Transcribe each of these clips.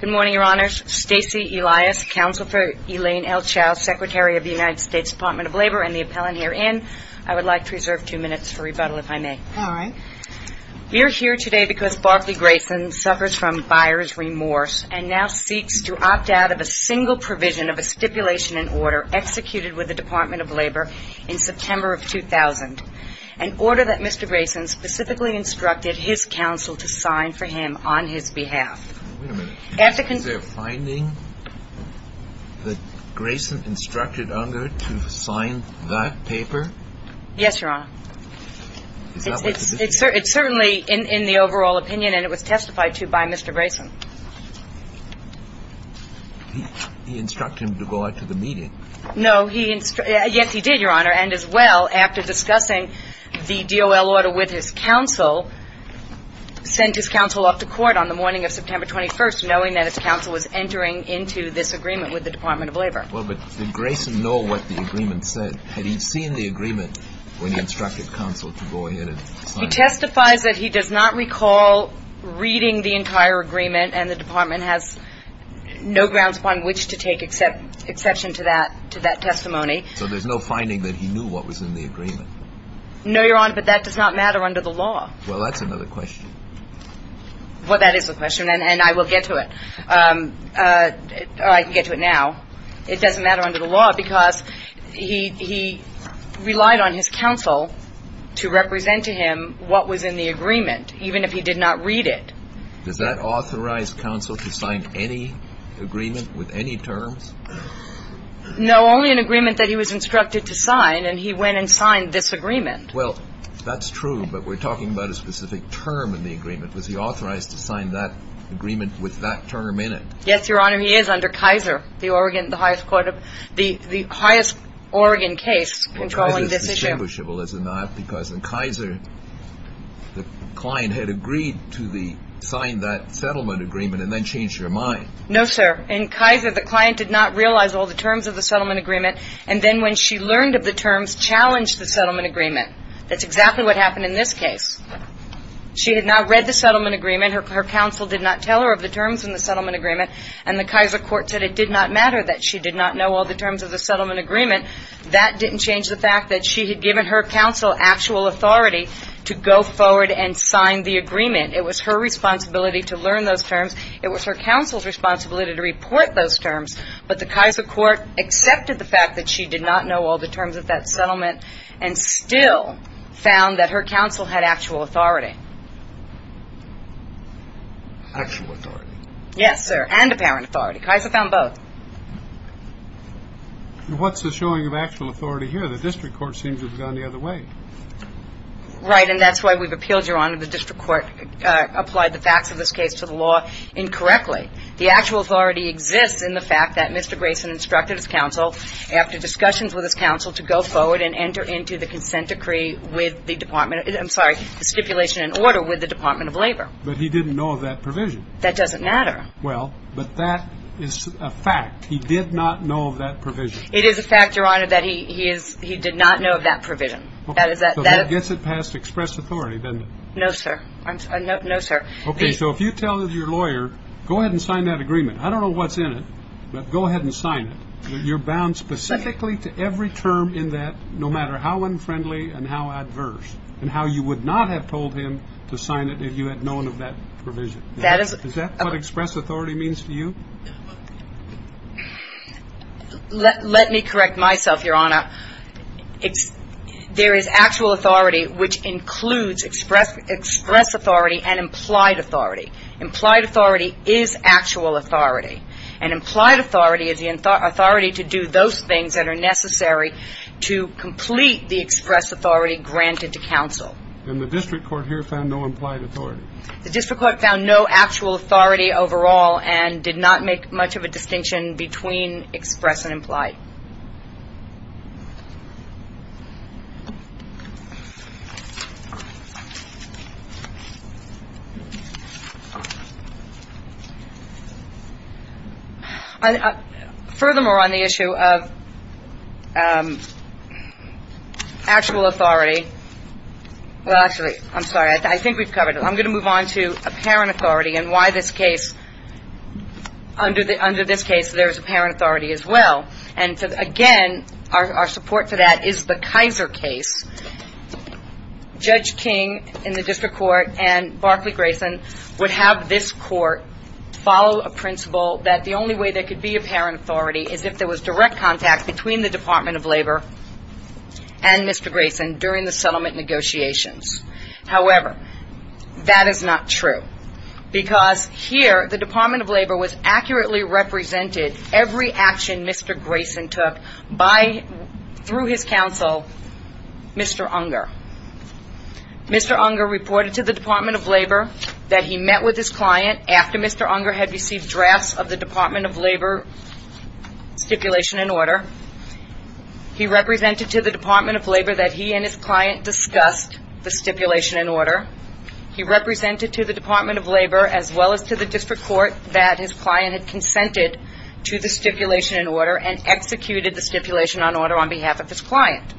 Good morning, Your Honors. Stacy Elias, Counsel for Elaine L. Chau, Secretary of the United States Department of Labor, and the appellant herein. I would like to reserve two minutes for rebuttal, if I may. All right. We are here today because Barclay Grayson suffers from buyer's remorse and now seeks to opt out of a single provision of a stipulation and order executed with the Department of Labor in September of 2000, an order that Mr. Grayson specifically instructed his counsel to sign for him on his behalf. Wait a minute. Is there a finding that Grayson instructed Unger to sign that paper? Yes, Your Honor. It's certainly in the overall opinion, and it was testified to by Mr. Grayson. He instructed him to go out to the meeting. No, he – yes, he did, Your Honor, and as well, after discussing the DOL order with his counsel, sent his counsel off to court on the morning of September 21st, knowing that his counsel was entering into this agreement with the Department of Labor. Well, but did Grayson know what the agreement said? Had he seen the agreement when he instructed counsel to go ahead and sign it? He testifies that he does not recall reading the entire agreement, and the Department has no grounds upon which to take exception to that testimony. So there's no finding that he knew what was in the agreement? No, Your Honor, but that does not matter under the law. Well, that's another question. Well, that is a question, and I will get to it. I can get to it now. It doesn't matter under the law because he relied on his counsel to represent to him what was in the agreement, even if he did not read it. Does that authorize counsel to sign any agreement with any terms? No, only an agreement that he was instructed to sign, and he went and signed this agreement. Well, that's true, but we're talking about a specific term in the agreement. Was he authorized to sign that agreement with that term in it? Yes, Your Honor, he is under Kaiser, the Oregon, the highest court of the highest Oregon case controlling this issue. And Kaiser is distinguishable, is it not? Because in Kaiser, the client had agreed to sign that settlement agreement and then change their mind. No, sir. In Kaiser, the client did not realize all the terms of the settlement agreement, and then when she learned of the terms, challenged the settlement agreement. That's exactly what happened in this case. She had now read the settlement agreement. Her counsel did not tell her of the terms in the settlement agreement, and the Kaiser court said it did not matter that she did not know all the terms of the settlement agreement. That didn't change the fact that she had given her counsel actual authority to go forward and sign the agreement. It was her responsibility to learn those terms. It was her counsel's responsibility to report those terms, but the Kaiser court accepted the fact that she did not know all the terms of that settlement and still found that her counsel had actual authority. Actual authority? Yes, sir, and apparent authority. Kaiser found both. What's the showing of actual authority here? The district court seems to have gone the other way. Right, and that's why we've appealed, Your Honor, the district court applied the facts of this case to the law incorrectly. The actual authority exists in the fact that Mr. Grayson instructed his counsel, after discussions with his counsel, to go forward and enter into the consent decree with the Department of Labor. I'm sorry, the stipulation and order with the Department of Labor. But he didn't know of that provision. That doesn't matter. Well, but that is a fact. He did not know of that provision. It is a fact, Your Honor, that he did not know of that provision. So that gets it past express authority, doesn't it? No, sir. No, sir. Okay, so if you tell your lawyer, go ahead and sign that agreement. I don't know what's in it, but go ahead and sign it. You're bound specifically to every term in that, no matter how unfriendly and how adverse, and how you would not have told him to sign it if you had known of that provision. Is that what express authority means to you? Let me correct myself, Your Honor. There is actual authority, which includes express authority and implied authority. Implied authority is actual authority. And implied authority is the authority to do those things that are necessary to complete the express authority granted to counsel. And the district court here found no implied authority? The district court found no actual authority overall and did not make much of a distinction between express and implied. Furthermore, on the issue of actual authority, well, actually, I'm sorry, I think we've covered it. I'm going to move on to apparent authority and why this case, under this case, there's apparent authority as well. And again, our support for that is the Kaiser case. Judge King in the district court and Barclay Grayson would have this court follow a principle that the only way there could be apparent authority is if there was direct contact between the Department of Labor and Mr. Grayson during the settlement negotiations. However, that is not true because here the Department of Labor was accurately represented every action Mr. Grayson took by, through his counsel, Mr. Unger. Mr. Unger reported to the Department of Labor that he met with his client after Mr. Unger had received drafts of the Department of Labor stipulation and order. He represented to the Department of Labor that he and his client discussed the stipulation and order. He represented to the Department of Labor, as well as to the district court, that his client had consented to the stipulation and order and executed the stipulation and order on behalf of his client.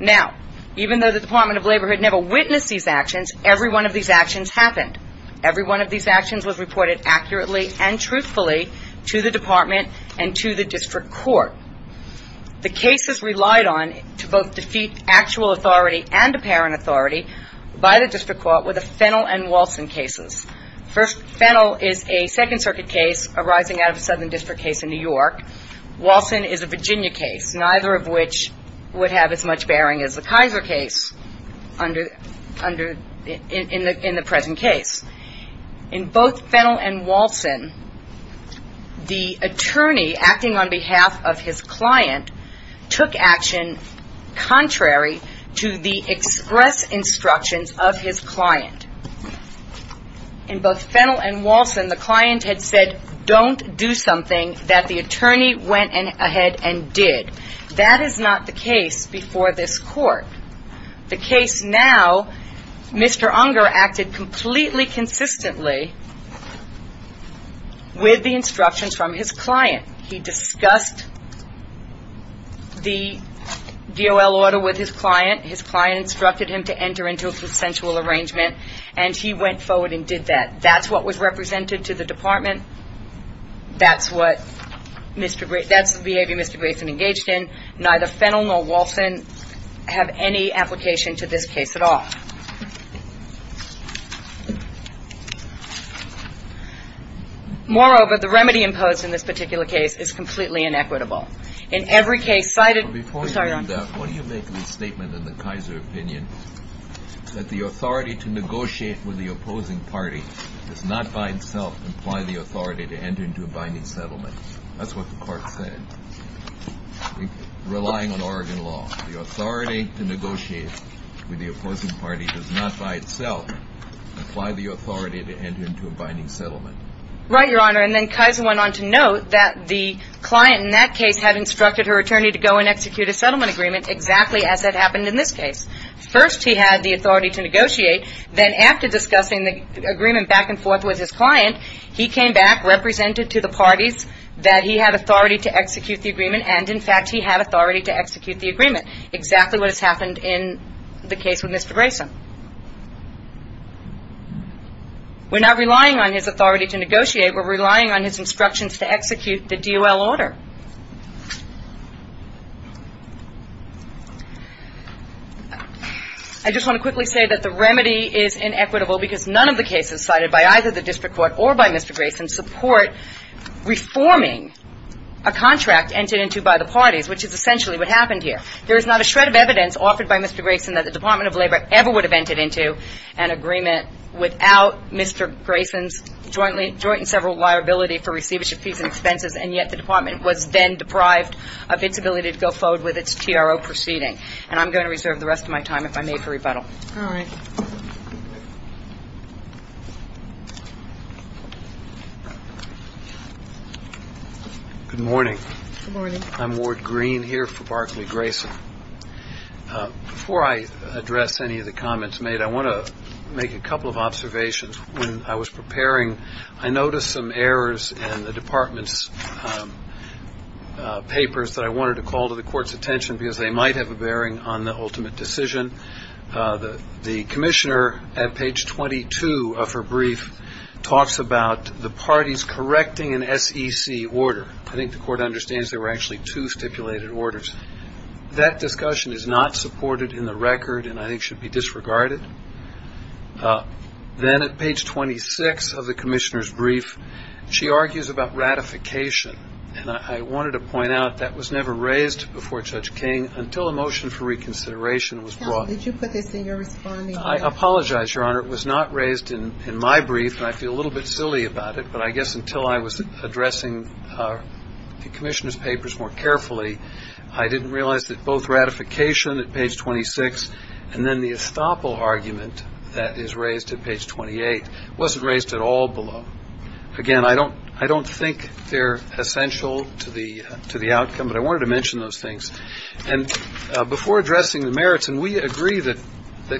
Now, even though the Department of Labor had never witnessed these actions, every one of these actions happened. Every one of these actions was reported accurately and truthfully to the department and to the district court. The cases relied on to both defeat actual authority and apparent authority by the district court were the Fennel and Walson cases. First, Fennel is a Second Circuit case arising out of a Southern District case in New York. Walson is a Virginia case, neither of which would have as much bearing as the Kaiser case in the present case. In both Fennel and Walson, the attorney acting on behalf of his client took action contrary to the express instructions of his client. In both Fennel and Walson, the client had said, don't do something that the attorney went ahead and did. That is not the case before this court. The case now, Mr. Unger acted completely consistently with the instructions from his client. He discussed the DOL order with his client. His client instructed him to enter into a consensual arrangement, and he went forward and did that. That's what was represented to the department. That's the behavior Mr. Grayson engaged in. Neither Fennel nor Walson have any application to this case at all. Moreover, the remedy imposed in this particular case is completely inequitable. In every case cited ñ I'm sorry, Your Honor. Before you do that, what do you make of the statement in the Kaiser opinion that the authority to negotiate with the opposing party does not by itself imply the authority to enter into a binding settlement? That's what the court said. Relying on Oregon law, the authority to negotiate with the opposing party does not by itself imply the authority to enter into a binding settlement. Right, Your Honor. And then Kaiser went on to note that the client in that case had instructed her attorney to go and execute a settlement agreement exactly as that happened in this case. First, he had the authority to negotiate. Then after discussing the agreement back and forth with his client, he came back, represented to the parties that he had authority to execute the agreement, and in fact he had authority to execute the agreement, exactly what has happened in the case with Mr. Grayson. We're not relying on his authority to negotiate. We're relying on his instructions to execute the DOL order. I just want to quickly say that the remedy is inequitable because none of the cases cited by either the district court or by Mr. Grayson support reforming a contract entered into by the parties, which is essentially what happened here. There is not a shred of evidence offered by Mr. Grayson that the Department of Labor ever would have entered into an agreement without Mr. Grayson's joint and several liability for receivership fees and expenses, and yet the department was then deprived of its ability to go forward with its TRO proceeding. And I'm going to reserve the rest of my time if I may for rebuttal. All right. Good morning. Good morning. I'm Ward Green here for Barclay Grayson. Before I address any of the comments made, I want to make a couple of observations. When I was preparing, I noticed some errors in the department's papers that I wanted to call to the court's attention because they might have a bearing on the ultimate decision. The commissioner at page 22 of her brief talks about the parties correcting an SEC order. I think the court understands there were actually two stipulated orders. That discussion is not supported in the record and I think should be disregarded. Then at page 26 of the commissioner's brief, she argues about ratification, and I wanted to point out that was never raised before Judge King until a motion for reconsideration was brought. Did you put this in your response? I apologize, Your Honor. It was not raised in my brief and I feel a little bit silly about it, but I guess until I was addressing the commissioner's papers more carefully, I didn't realize that both ratification at page 26 and then the estoppel argument that is raised at page 28 wasn't raised at all below. Again, I don't think they're essential to the outcome, but I wanted to mention those things. And before addressing the merits, and we agree that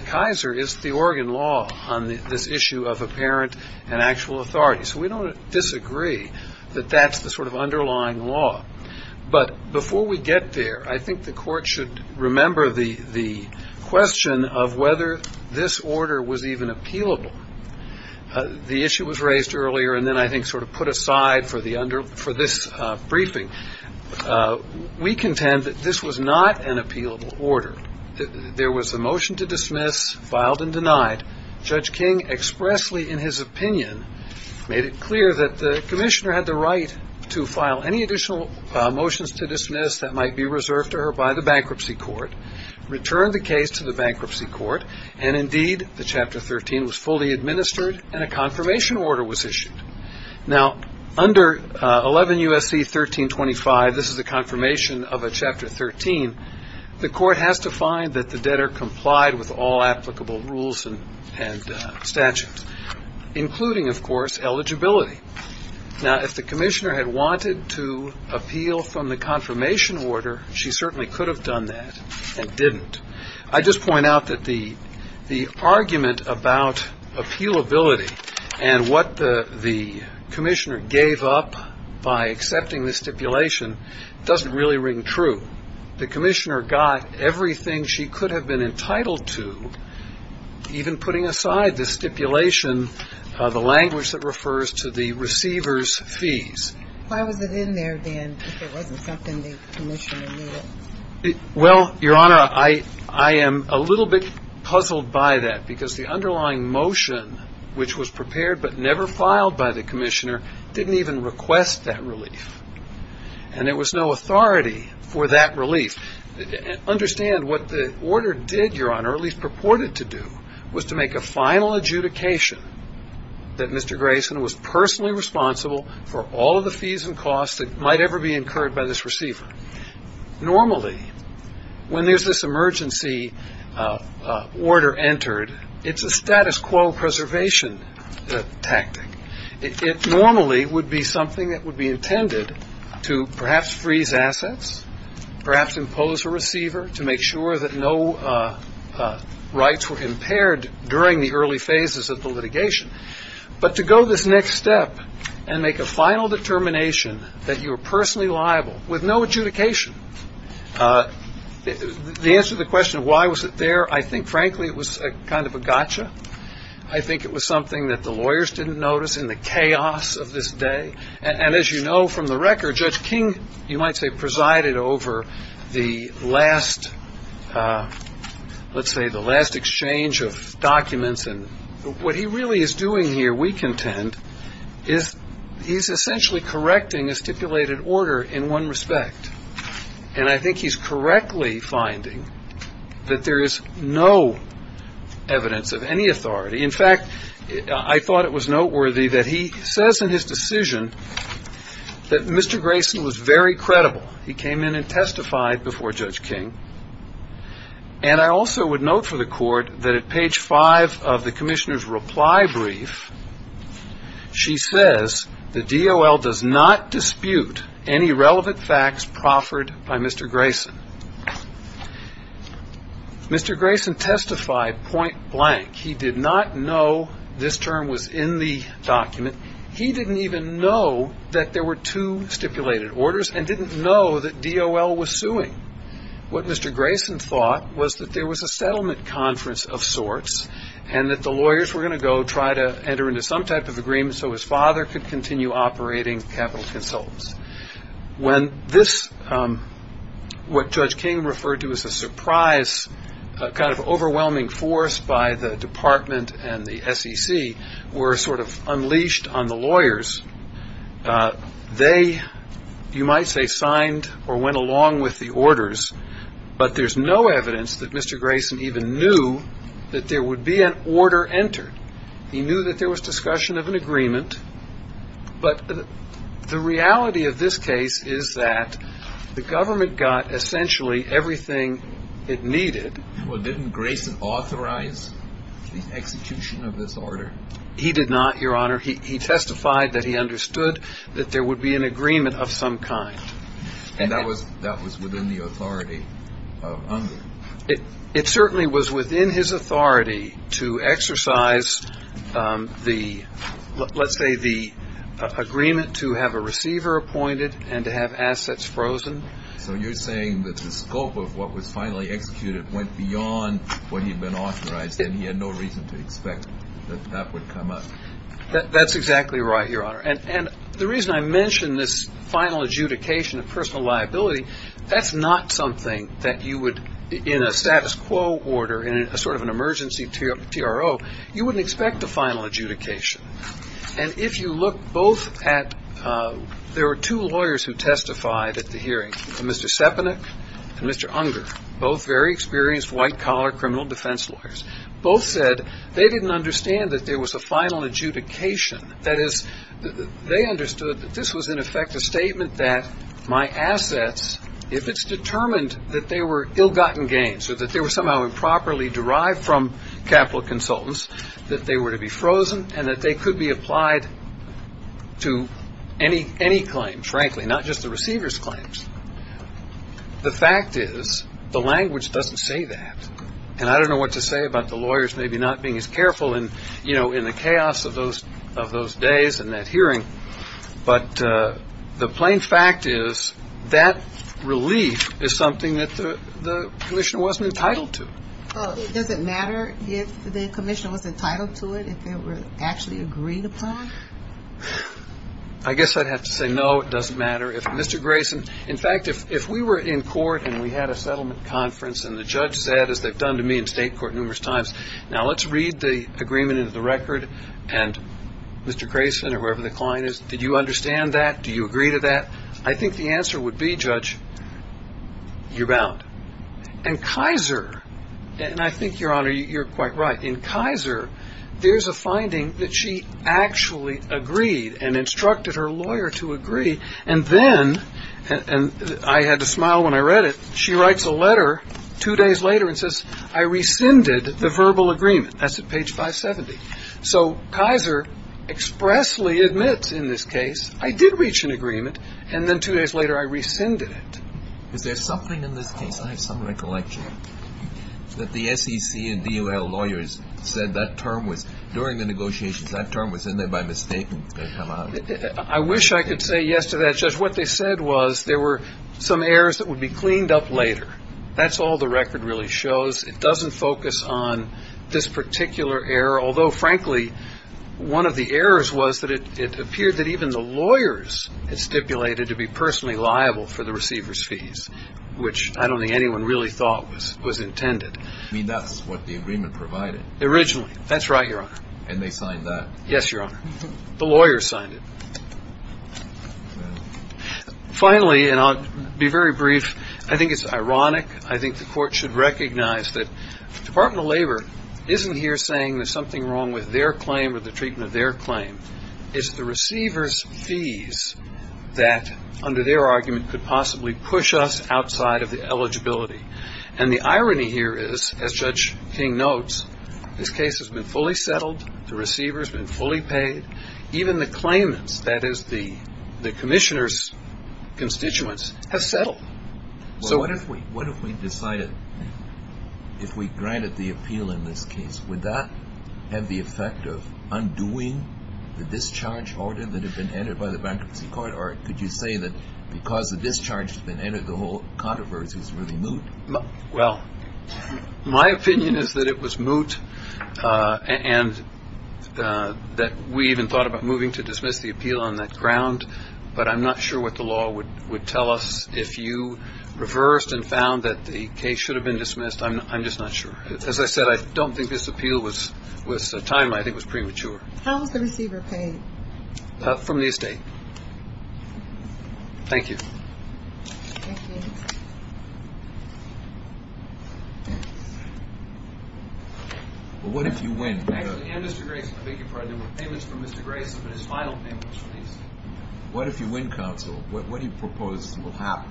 Kaiser is the organ law on this issue of apparent and actual authority, so we don't disagree that that's the sort of underlying law. But before we get there, I think the court should remember the question of whether this order was even appealable. The issue was raised earlier and then I think sort of put aside for this briefing. We contend that this was not an appealable order. There was a motion to dismiss, filed and denied. Judge King expressly in his opinion made it clear that the commissioner had the right to file any additional motions to dismiss that might be reserved to her by the bankruptcy court, returned the case to the bankruptcy court, and indeed the Chapter 13 was fully administered and a confirmation order was issued. Now, under 11 U.S.C. 1325, this is a confirmation of a Chapter 13, the court has to find that the debtor complied with all applicable rules and statutes, including, of course, eligibility. Now, if the commissioner had wanted to appeal from the confirmation order, she certainly could have done that and didn't. I just point out that the argument about appealability and what the commissioner gave up by accepting the stipulation doesn't really ring true. The commissioner got everything she could have been entitled to, even putting aside the stipulation, the language that refers to the receiver's fees. Why was it in there then if it wasn't something the commissioner needed? Well, Your Honor, I am a little bit puzzled by that because the underlying motion, which was prepared but never filed by the commissioner, didn't even request that relief. And there was no authority for that relief. Understand what the order did, Your Honor, or at least purported to do, was to make a final adjudication that Mr. Grayson was personally responsible for all of the fees and costs that might ever be incurred by this receiver. Normally, when there's this emergency order entered, it's a status quo preservation tactic. It normally would be something that would be intended to perhaps freeze assets, perhaps impose a receiver to make sure that no rights were impaired during the early phases of the litigation. But to go this next step and make a final determination that you were personally liable with no adjudication, the answer to the question of why was it there, I think, frankly, it was kind of a gotcha. I think it was something that the lawyers didn't notice in the chaos of this day. And as you know from the record, Judge King, you might say, presided over the last, let's say, the last exchange of documents. And what he really is doing here, we contend, is he's essentially correcting a stipulated order in one respect. And I think he's correctly finding that there is no evidence of any authority. In fact, I thought it was noteworthy that he says in his decision that Mr. Grayson was very credible. He came in and testified before Judge King. And I also would note for the Court that at page five of the commissioner's reply brief, she says the DOL does not dispute any relevant facts proffered by Mr. Grayson. Mr. Grayson testified point blank. He did not know this term was in the document. He didn't even know that there were two stipulated orders and didn't know that DOL was suing. What Mr. Grayson thought was that there was a settlement conference of sorts and that the lawyers were going to go try to enter into some type of agreement so his father could continue operating Capital Consultants. When this, what Judge King referred to as a surprise, kind of overwhelming force by the department and the SEC, were sort of unleashed on the lawyers, they, you might say, signed or went along with the orders. But there's no evidence that Mr. Grayson even knew that there would be an order entered. He knew that there was discussion of an agreement. But the reality of this case is that the government got essentially everything it needed. Well, didn't Grayson authorize the execution of this order? He did not, Your Honor. He testified that he understood that there would be an agreement of some kind. And that was within the authority of Unger? It certainly was within his authority to exercise the, let's say, the agreement to have a receiver appointed and to have assets frozen. So you're saying that the scope of what was finally executed went beyond what he'd been authorized, and he had no reason to expect that that would come up? That's exactly right, Your Honor. And the reason I mention this final adjudication of personal liability, that's not something that you would, in a status quo order, in a sort of an emergency TRO, you wouldn't expect a final adjudication. And if you look both at, there were two lawyers who testified at the hearing, Mr. Sepanik and Mr. Unger, both very experienced white-collar criminal defense lawyers. Both said they didn't understand that there was a final adjudication. That is, they understood that this was, in effect, a statement that my assets, if it's determined that they were ill-gotten gains or that they were somehow improperly derived from capital consultants, that they were to be frozen and that they could be applied to any claim, frankly, not just the receiver's claims. The fact is the language doesn't say that. And I don't know what to say about the lawyers maybe not being as careful in the chaos of those days and that hearing. But the plain fact is that relief is something that the commissioner wasn't entitled to. Does it matter if the commissioner was entitled to it, if they were actually agreed upon? I guess I'd have to say no, it doesn't matter. In fact, if we were in court and we had a settlement conference and the judge said, as they've done to me in state court numerous times, now let's read the agreement into the record, and Mr. Grayson or whoever the client is, did you understand that? Do you agree to that? I think the answer would be, Judge, you're bound. And Kaiser, and I think, Your Honor, you're quite right. In Kaiser, there's a finding that she actually agreed and instructed her lawyer to agree. And then, and I had to smile when I read it, she writes a letter two days later and says, I rescinded the verbal agreement. That's at page 570. So Kaiser expressly admits in this case, I did reach an agreement, and then two days later I rescinded it. Is there something in this case, I have some recollection, that the SEC and DOL lawyers said that term was, during the negotiations, that term was in there by mistake and it's going to come out? I wish I could say yes to that, Judge. What they said was there were some errors that would be cleaned up later. That's all the record really shows. It doesn't focus on this particular error, although, frankly, one of the errors was that it appeared that even the lawyers had stipulated to be personally liable for the receiver's fees, which I don't think anyone really thought was intended. You mean that's what the agreement provided? Originally. That's right, Your Honor. And they signed that? Yes, Your Honor. The lawyers signed it. Finally, and I'll be very brief, I think it's ironic, I think the court should recognize that the Department of Labor isn't here saying there's something wrong with their claim or the treatment of their claim. It's the receiver's fees that, under their argument, could possibly push us outside of the eligibility. And the irony here is, as Judge King notes, this case has been fully settled, the receiver's been fully paid, even the claimants, that is the commissioner's constituents, have settled. Well, what if we decided, if we granted the appeal in this case, would that have the effect of undoing the discharge order that had been entered by the bankruptcy court? Or could you say that because the discharge had been entered, the whole controversy is really moot? Well, my opinion is that it was moot and that we even thought about moving to dismiss the appeal on that ground. But I'm not sure what the law would tell us. If you reversed and found that the case should have been dismissed, I'm just not sure. As I said, I don't think this appeal was timely. I think it was premature. How was the receiver paid? From the estate. Thank you. Well, what if you win? Actually, Mr. Grayson, I beg your pardon. There were payments from Mr. Grayson, but his final payment was released. What if you win, counsel? What do you propose will happen?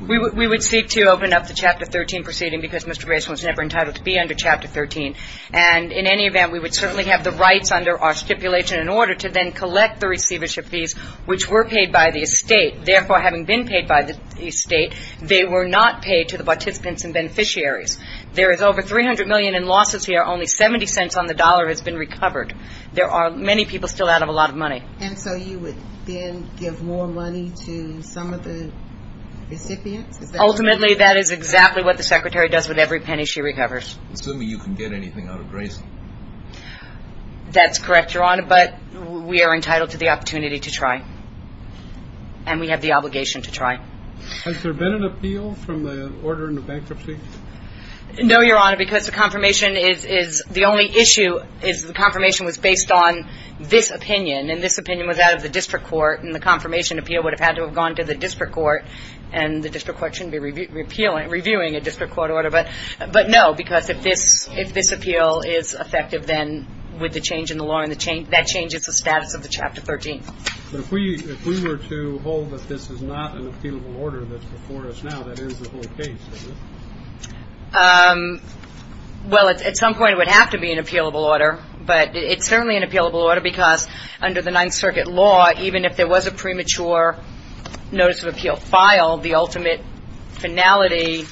We would seek to open up the Chapter 13 proceeding because Mr. Grayson was never entitled to be under Chapter 13. And in any event, we would certainly have the rights under our stipulation in order to then collect the receivership fees, which were paid by the estate. Therefore, having been paid by the estate, they were not paid to the participants and beneficiaries. There is over $300 million in losses here. Only $0.70 on the dollar has been recovered. There are many people still out of a lot of money. And so you would then give more money to some of the recipients? Ultimately, that is exactly what the Secretary does with every penny she recovers. Assuming you can get anything out of Grayson. That's correct, Your Honor, but we are entitled to the opportunity to try. And we have the obligation to try. Has there been an appeal from the Order on Bankruptcy? No, Your Honor, because the confirmation is the only issue is the confirmation was based on this opinion. And this opinion was out of the district court. And the confirmation appeal would have had to have gone to the district court. And the district court shouldn't be reviewing a district court order. But, no, because if this appeal is effective, then with the change in the law, that change is the status of the Chapter 13. But if we were to hold that this is not an appealable order that's before us now, that ends the whole case, does it? Well, at some point it would have to be an appealable order. But it's certainly an appealable order because under the Ninth Circuit law, even if there was a premature notice of appeal filed, the ultimate finality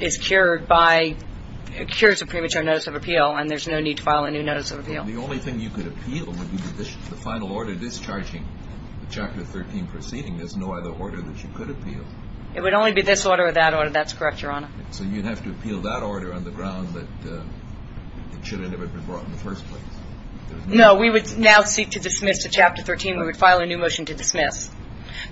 is cured by – cures a premature notice of appeal, and there's no need to file a new notice of appeal. The only thing you could appeal would be the final order discharging the Chapter 13 proceeding. There's no other order that you could appeal. It would only be this order or that order. That's correct, Your Honor. So you'd have to appeal that order on the ground that it should have never been brought in the first place. No. We would now seek to dismiss the Chapter 13. We would file a new motion to dismiss.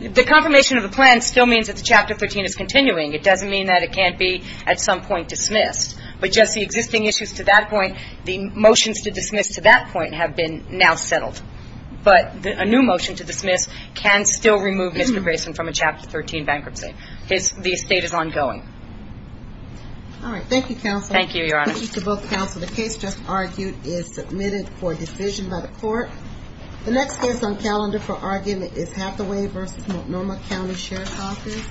The confirmation of the plan still means that the Chapter 13 is continuing. It doesn't mean that it can't be at some point dismissed. But just the existing issues to that point, the motions to dismiss to that point have been now settled. But a new motion to dismiss can still remove Mr. Grayson from a Chapter 13 bankruptcy. The estate is ongoing. All right. Thank you, counsel. Thank you, Your Honor. Thank you to both counsel. The case just argued is submitted for decision by the Court. The next case on calendar for argument is Hathaway v. Multnomah County Sheriff's Office.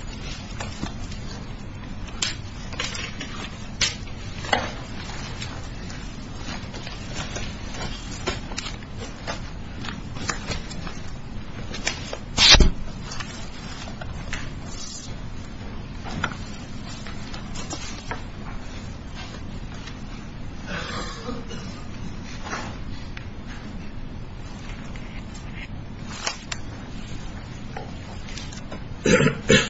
Thank you.